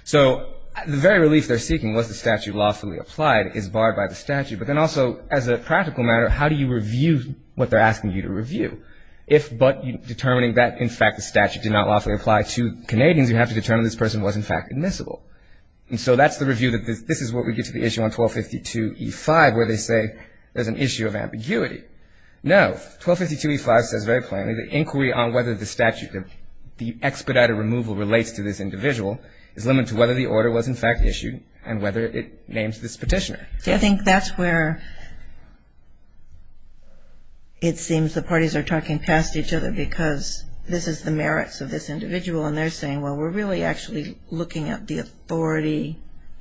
So the very relief they're seeking was the statute lawfully applied is barred by the statute. But then also as a practical matter, how do you review what they're asking you to review? If but determining that in fact the statute did not lawfully apply to Canadians, you have to determine this person was in fact admissible. And so that's the review that this is what we get to the issue on 1252E5 where they say there's an issue of ambiguity. No, 1252E5 says very plainly the inquiry on whether the statute, the expedited removal relates to this individual is limited to whether the order was in fact issued and whether it names this petitioner. I think that's where it seems the parties are talking past each other because this is the merits of this individual. And they're saying, well, we're really actually looking at the authority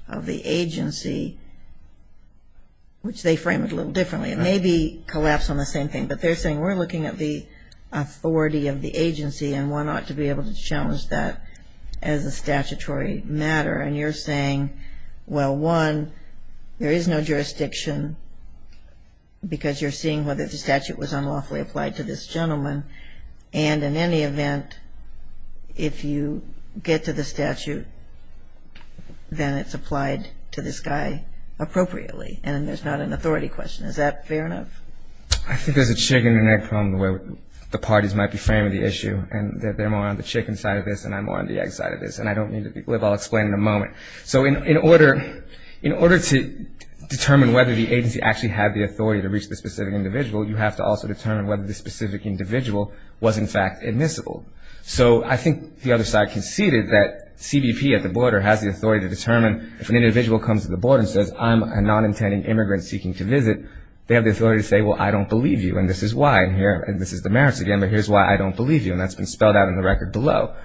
of the agency, which they frame it a little differently and maybe collapse on the same thing. But they're saying we're looking at the authority of the agency and one ought to be able to challenge that as a statutory matter. And you're saying, well, one, there is no jurisdiction because you're seeing whether the statute was unlawfully applied to this gentleman. And in any event, if you get to the statute, then it's applied to this guy appropriately and there's not an authority question. Is that fair enough? I think there's a chicken and egg problem the way the parties might be framing the issue and they're more on the chicken side of this and I'm more on the egg side of this. And I don't mean to be glib. I'll explain in a moment. So in order to determine whether the agency actually had the authority to reach the specific individual, you have to also determine whether the specific individual was, in fact, admissible. So I think the other side conceded that CBP at the border has the authority to determine if an individual comes to the border and says, I'm a non-intending immigrant seeking to visit, they have the authority to say, well, I don't believe you and this is why here and this is the merits again, but here's why I don't believe you. And that's been spelled out in the record below.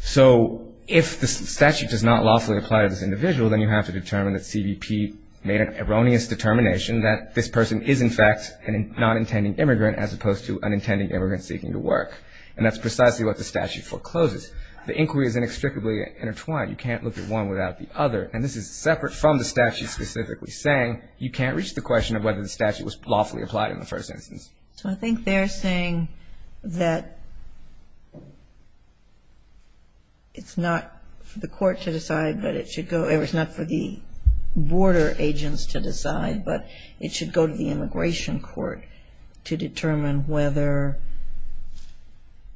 So if the statute does not lawfully apply to this individual, then you have to determine that CBP made an erroneous determination that this person is, in fact, a non-intending immigrant as opposed to an intending immigrant seeking to work. And that's precisely what the statute forecloses. The inquiry is inextricably intertwined. You can't look at one without the other. And this is separate from the statute specifically saying you can't reach the question of whether the statute was lawfully applied in the first instance. So I think they're saying that it's not for the court to decide, but it should go, it's not for the border agents to decide, but it should go to the immigration court to determine whether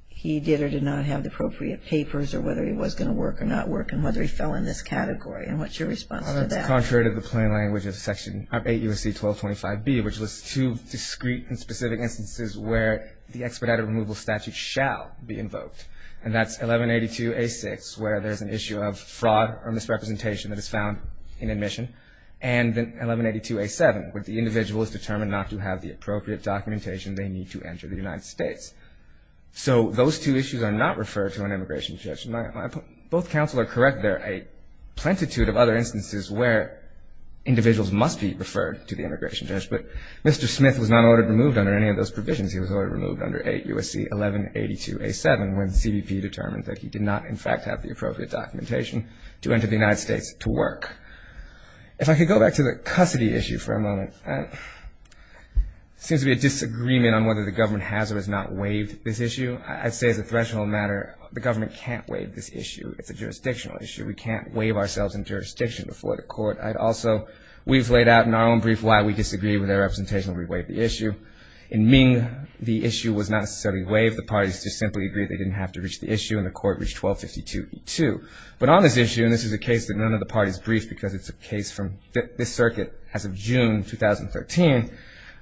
he did or did not have the appropriate papers or whether he was going to work or not work and whether he fell in this category. And what's your response to that? That's contrary to the plain language of Section 8 U.S.C. 1225B, which lists two discrete and specific instances where the expedited removal statute shall be invoked. And that's 1182A6, where there's an issue of fraud or misrepresentation that is found in admission. And then 1182A7, where the individual is determined not to have the appropriate documentation they need to enter the United States. So those two issues are not referred to an immigration judge. Both counsel are correct. There are a plentitude of other instances where individuals must be referred to the immigration judge. But Mr. Smith was not ordered removed under any of those provisions. He was ordered removed under 8 U.S.C. 1182A7, when the CBP determined that he did not, in fact, have the appropriate documentation to enter the United States to work. If I could go back to the custody issue for a moment, there seems to be a disagreement on whether the government has or has not waived this issue. I'd say as a threshold matter, the government can't waive this issue. It's a jurisdictional issue. We can't waive ourselves in jurisdiction before the court. I'd also, we've laid out in our own brief why we disagree with their representation when we waive the issue. In Ming, the issue was not necessarily waived. The parties just simply agreed they didn't have to reach the issue, and the court reached 1252E2. But on this issue, and this is a case that none of the parties briefed because it's a case from this circuit as of June 2013,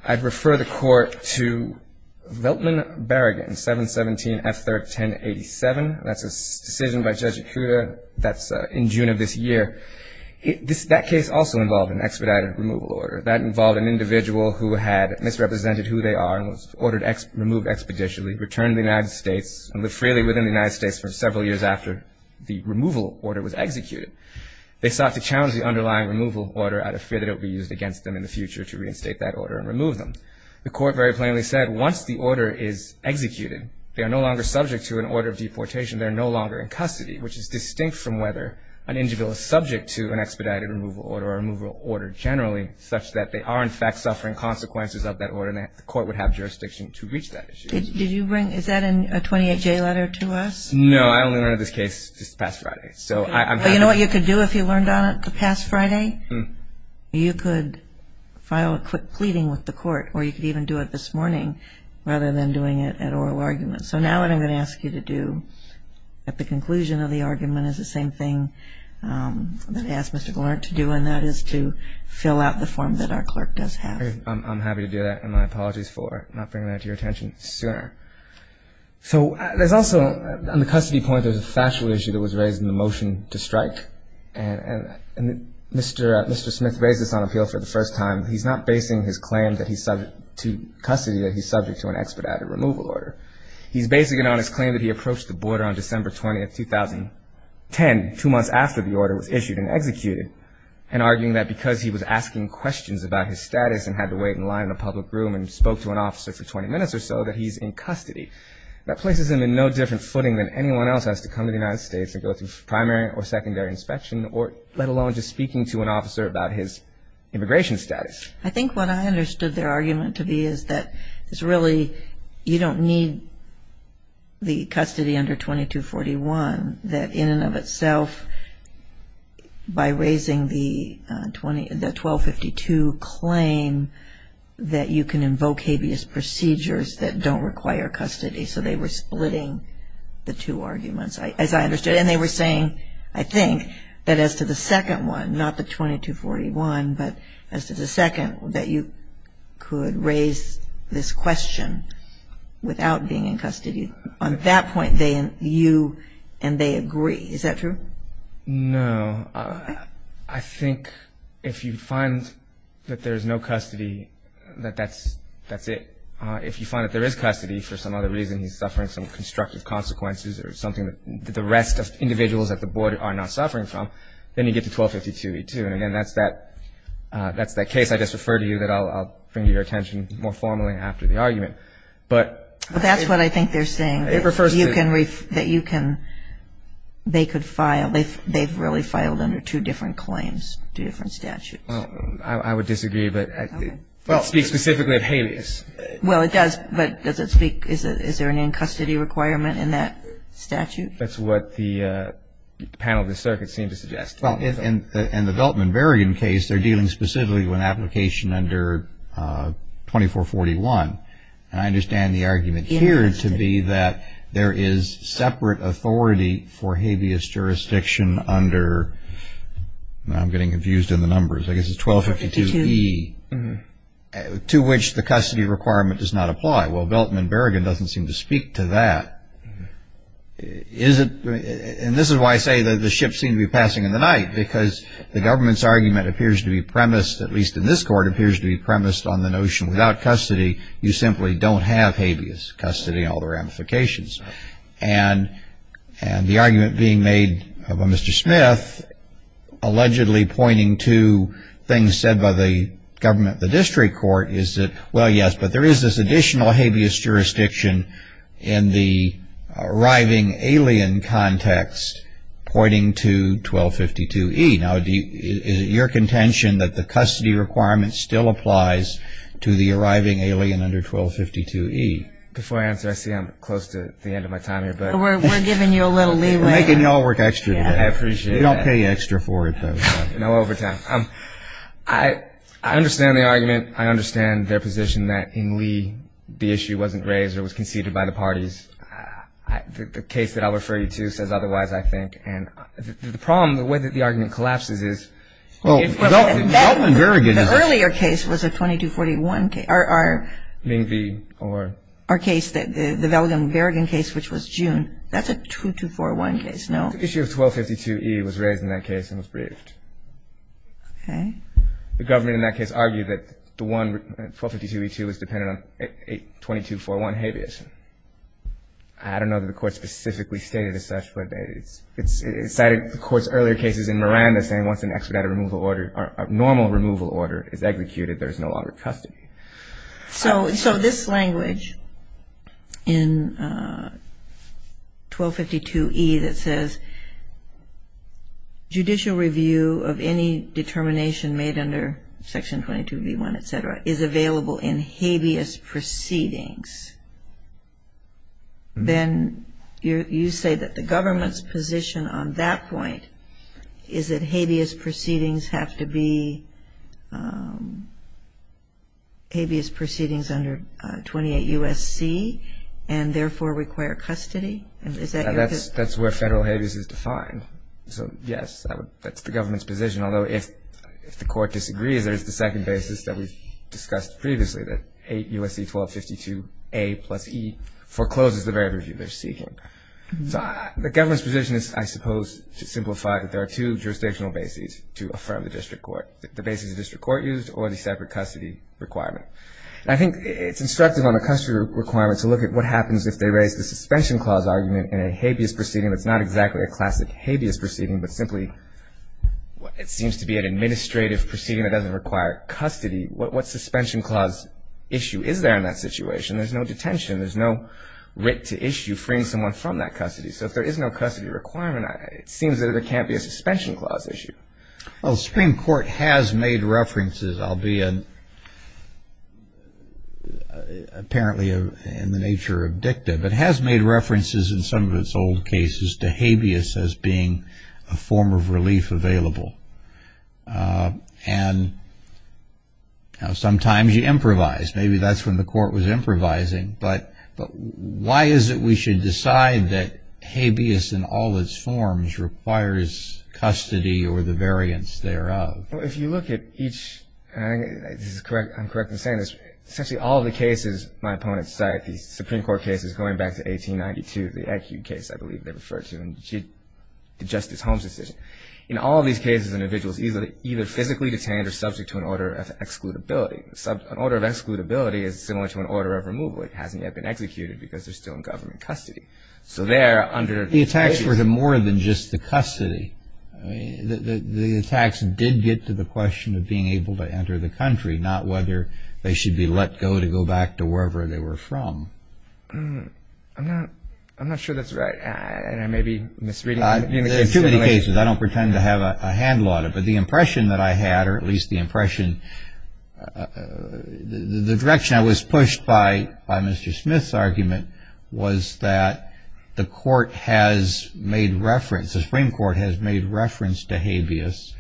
I'd refer the court to Veltman-Berrigan, 717F31087. That's a decision by Judge Ikuda that's in June of this year. That case also involved an expedited removal order. That involved an individual who had misrepresented who they are and was removed expeditiously, returned to the United States, and lived freely within the United States for several years after the removal order was executed. They sought to challenge the underlying removal order out of fear that it would be used against them in the future to reinstate that order and remove them. The court very plainly said once the order is executed, they are no longer subject to an order of deportation, they are no longer in custody, which is distinct from whether an individual is that they are in fact suffering consequences of that order, and the court would have jurisdiction to reach that issue. Did you bring, is that a 28-J letter to us? No, I only learned of this case this past Friday. But you know what you could do if you learned on it the past Friday? You could file a quick pleading with the court, or you could even do it this morning rather than doing it at oral argument. So now what I'm going to ask you to do at the conclusion of the argument is the same thing that I asked Mr. Gallant to do, and that is to fill out the form that our clerk does have. I'm happy to do that, and my apologies for not bringing that to your attention sooner. So there's also, on the custody point, there's a factual issue that was raised in the motion to strike. And Mr. Smith raised this on appeal for the first time. He's not basing his claim that he's subject to custody, that he's subject to an expedited removal order. He's basing it on his claim that he approached the border on December 20, 2010, two months after the order was issued and executed, and arguing that because he was asking questions about his status and had to wait in line in a public room and spoke to an officer for 20 minutes or so, that he's in custody. That places him in no different footing than anyone else has to come to the United States and go through primary or secondary inspection, let alone just speaking to an officer about his immigration status. I think what I understood their argument to be is that it's really you don't need the custody under 2241, that in and of itself, by raising the 1252 claim, that you can invoke habeas procedures that don't require custody. So they were splitting the two arguments, as I understood. And they were saying, I think, that as to the second one, not the 2241, but as to the second, that you could raise this question without being in custody. On that point, you and they agree. Is that true? No. I think if you find that there's no custody, that that's it. If you find that there is custody for some other reason, he's suffering some constructive consequences or something that the rest of individuals at the border are not suffering from, then you get to 1252E2. And, again, that's that case I just referred to that I'll bring to your attention more formally after the argument. Well, that's what I think they're saying, that you can, they could file, they've really filed under two different claims, two different statutes. I would disagree, but that speaks specifically of habeas. Well, it does, but does it speak, is there an in-custody requirement in that statute? That's what the panel of the circuit seemed to suggest. Well, in the Beltman-Berrigan case, they're dealing specifically with an application under 2441. And I understand the argument here to be that there is separate authority for habeas jurisdiction under, I'm getting confused in the numbers, I guess it's 1252E, to which the custody requirement does not apply. Well, Beltman-Berrigan doesn't seem to speak to that. Is it, and this is why I say that the ship seemed to be passing in the night, because the government's argument appears to be premised, at least in this court, appears to be premised on the notion without custody, you simply don't have habeas custody and all the ramifications. And the argument being made by Mr. Smith, allegedly pointing to things said by the government, the district court, is that, well, yes, but there is this additional habeas jurisdiction in the arriving alien context pointing to 1252E. Now, is it your contention that the custody requirement still applies to the arriving alien under 1252E? Before I answer, I see I'm close to the end of my time here. We're giving you a little leeway. We're making you all work extra today. I appreciate that. You don't pay extra for it, though. No overtime. I understand the argument. I understand their position that in Lee, the issue wasn't raised or was conceded by the parties. The case that I'll refer you to says otherwise, I think. And the problem, the way that the argument collapses is the earlier case was a 2241 case. Our case, the Velgen-Verrigan case, which was June, that's a 2241 case. The issue of 1252E was raised in that case and was briefed. Okay. The government in that case argued that the one, 1252E2, was dependent on a 2241 habeas. I don't know that the court specifically stated as such, but it cited the court's earlier cases in Miranda saying once an expedited removal order, a normal removal order is executed, there's no longer custody. So this language in 1252E that says judicial review of any determination made under Section 22B1, et cetera, is available in habeas proceedings, then you say that the government's position on that point is that habeas proceedings under 28 U.S.C. and therefore require custody? Is that your position? That's where federal habeas is defined. So, yes, that's the government's position, although if the court disagrees there's the second basis that we've discussed previously, that 8 U.S.C. 1252A plus E forecloses the very review they're seeking. So the government's position is, I suppose, to simplify that there are two jurisdictional bases to affirm the district court, the basis the district court used or the separate custody requirement. And I think it's instructive on a custody requirement to look at what happens if they raise the suspension clause argument in a habeas proceeding that's not exactly a classic habeas proceeding, but simply it seems to be an administrative proceeding that doesn't require custody. What suspension clause issue is there in that situation? There's no detention. There's no writ to issue freeing someone from that custody. So if there is no custody requirement, it seems that there can't be a suspension clause issue. Well, the Supreme Court has made references. I'll be apparently in the nature of dicta, but it has made references in some of its old cases to habeas as being a form of relief available. And sometimes you improvise. Maybe that's when the court was improvising, but why is it we should decide that habeas in all its forms requires custody or the variance thereof? Well, if you look at each, and I'm correct in saying this, essentially all the cases my opponents cite, the Supreme Court cases going back to 1892, the acute case I believe they refer to, and the Justice Holmes decision, in all these cases individuals either physically detained or subject to an order of excludability. An order of excludability is similar to an order of removal. It hasn't yet been executed because they're still in government custody. So they're under the agency. The attacks were more than just the custody. The attacks did get to the question of being able to enter the country, not whether they should be let go to go back to wherever they were from. I'm not sure that's right, and I may be misreading it. There are too many cases. I don't pretend to have a handle on it. But the impression that I had, or at least the impression, the direction I was pushed by Mr. Smith's argument was that the court has made reference, the Supreme Court has made reference to habeas,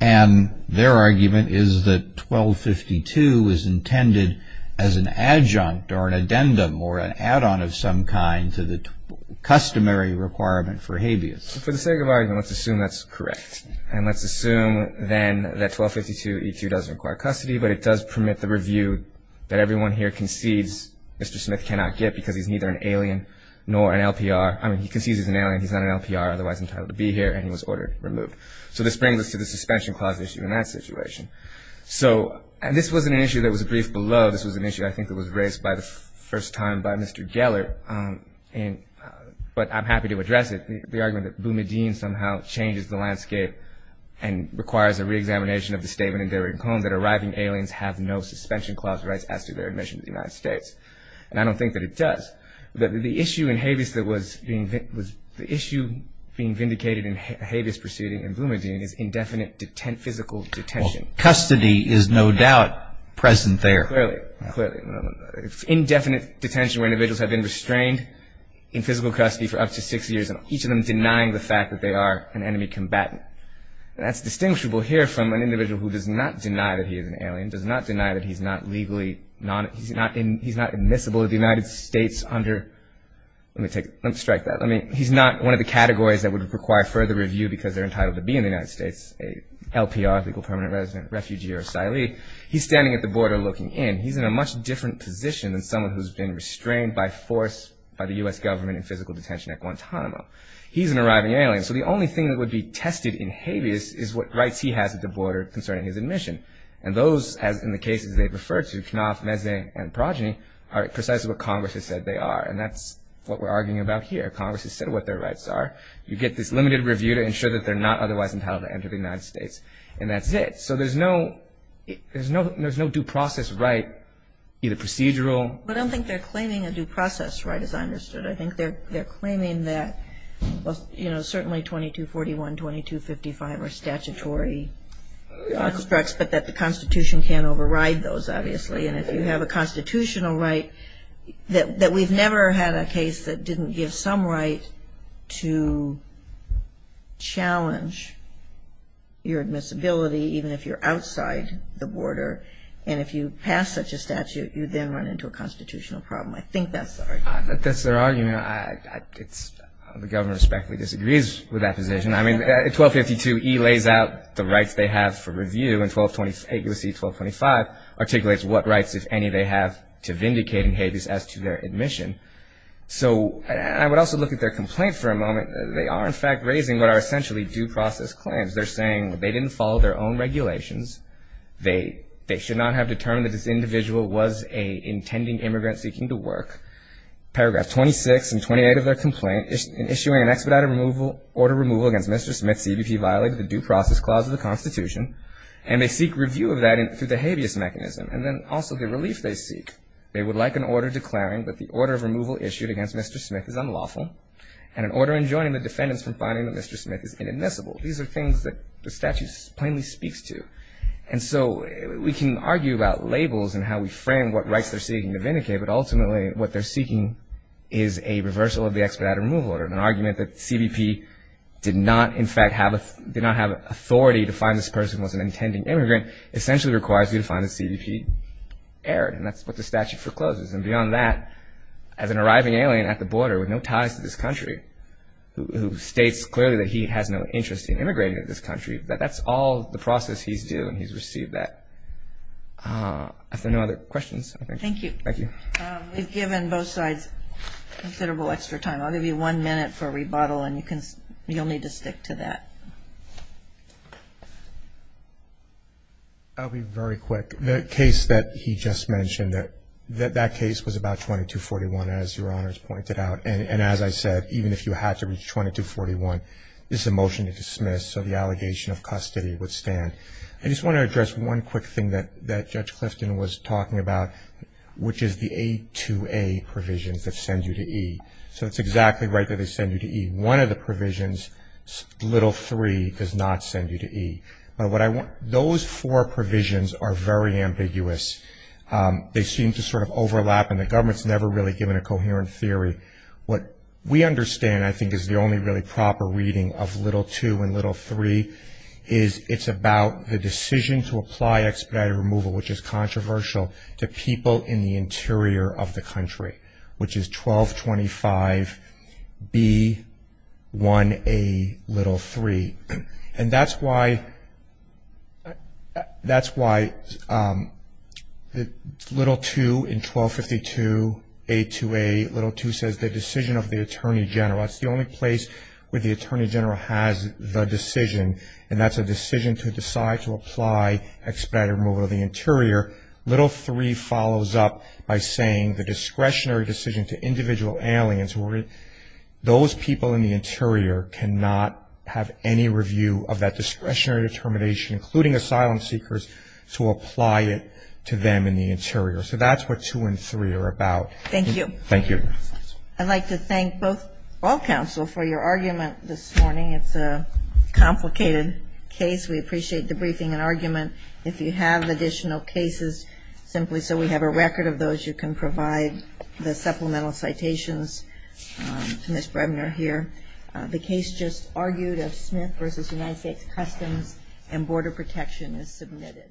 and their argument is that 1252 is intended as an adjunct or an addendum or an add-on of some kind to the customary requirement for habeas. For the sake of argument, let's assume that's correct. And let's assume then that 1252E2 does require custody, but it does permit the review that everyone here concedes Mr. Smith cannot get because he's neither an alien nor an LPR. I mean, he concedes he's an alien. He's not an LPR, otherwise entitled to be here, and he was ordered removed. So this brings us to the suspension clause issue in that situation. So this wasn't an issue that was briefed below. This was an issue I think that was raised by the first time by Mr. Geller, but I'm happy to address it, the argument that Boumediene somehow changes the landscape and requires a reexamination of the statement in Derrick Holmes that arriving aliens have no suspension clause rights as to their admission to the United States. And I don't think that it does. The issue in habeas that was being vindicated in habeas proceeding in Boumediene is indefinite physical detention. Well, custody is no doubt present there. Clearly, clearly. It's indefinite detention where individuals have been restrained in physical custody for up to six years and each of them denying the fact that they are an enemy combatant. And that's distinguishable here from an individual who does not deny that he is an alien, does not deny that he's not legally non- he's not admissible to the United States under Let me take, let me strike that. I mean, he's not one of the categories that would require further review because they're entitled to be in the United States, a LPR, legal permanent resident, refugee, or asylee. He's standing at the border looking in. He's in a much different position than someone who's been restrained by force by the U.S. government in physical detention at Guantanamo. He's an arriving alien. So the only thing that would be tested in habeas is what rights he has at the border concerning his admission. And those, as in the cases they've referred to, Knopf, Meze, and Progeny, are precisely what Congress has said they are. And that's what we're arguing about here. Congress has said what their rights are. You get this limited review to ensure that they're not otherwise entitled to enter the United States. And that's it. So there's no due process right, either procedural. I don't think they're claiming a due process right, as I understood. I think they're claiming that, you know, certainly 2241, 2255 are statutory constructs, but that the Constitution can't override those, obviously. And if you have a constitutional right, that we've never had a case that didn't give some right to challenge your admissibility, even if you're outside the border. And if you pass such a statute, you then run into a constitutional problem. I think that's their argument. That's their argument. The government respectfully disagrees with that position. I mean, 1252E lays out the rights they have for review, and 1225 articulates what rights, if any, they have to vindicate in habeas as to their admission. So I would also look at their complaint for a moment. They are, in fact, raising what are essentially due process claims. They're saying they didn't follow their own regulations. They should not have determined that this individual was an intending immigrant seeking to work. Paragraph 26 and 28 of their complaint, in issuing an expedited order of removal against Mr. Smith, CBP violated the due process clause of the Constitution, and they seek review of that through the habeas mechanism. And then also the relief they seek. They would like an order declaring that the order of removal issued against Mr. Smith is unlawful, and an order enjoining the defendants from finding that Mr. Smith is inadmissible. These are things that the statute plainly speaks to. And so we can argue about labels and how we frame what rights they're seeking to vindicate, but ultimately what they're seeking is a reversal of the expedited removal order. An argument that CBP did not, in fact, have authority to find this person was an intending immigrant essentially requires you to find that CBP erred, and that's what the statute forecloses. And beyond that, as an arriving alien at the border with no ties to this country, who states clearly that he has no interest in immigrating to this country, that that's all the process he's due and he's received that. Are there no other questions? Thank you. Thank you. We've given both sides considerable extra time. I'll give you one minute for a rebuttal, and you'll need to stick to that. I'll be very quick. The case that he just mentioned, that case was about 2241, as Your Honors pointed out, and as I said, even if you had to reach 2241, this is a motion to dismiss, so the allegation of custody would stand. I just want to address one quick thing that Judge Clifton was talking about, which is the A2A provisions that send you to E. So it's exactly right that they send you to E. One of the provisions, little three, does not send you to E. But what I want to ñ those four provisions are very ambiguous. They seem to sort of overlap, and the government's never really given a coherent theory. What we understand, I think, is the only really proper reading of little two and little three is it's about the decision to apply expedited removal, which is controversial, to people in the interior of the country, which is 1225B1A3. And that's why little two in 1252A2A, little two says the decision of the Attorney General. It's the only place where the Attorney General has the decision, and that's a decision to decide to apply expedited removal of the interior. Little three follows up by saying the discretionary decision to individual aliens, those people in the interior cannot have any review of that discretionary determination, including asylum seekers, to apply it to them in the interior. So that's what two and three are about. Thank you. Thank you. I'd like to thank both ñ all counsel for your argument this morning. It's a complicated case. We appreciate the briefing and argument. If you have additional cases, simply so we have a record of those, you can provide the supplemental citations to Ms. Bremner here. The case just argued of Smith v. United States Customs and Border Protection is submitted.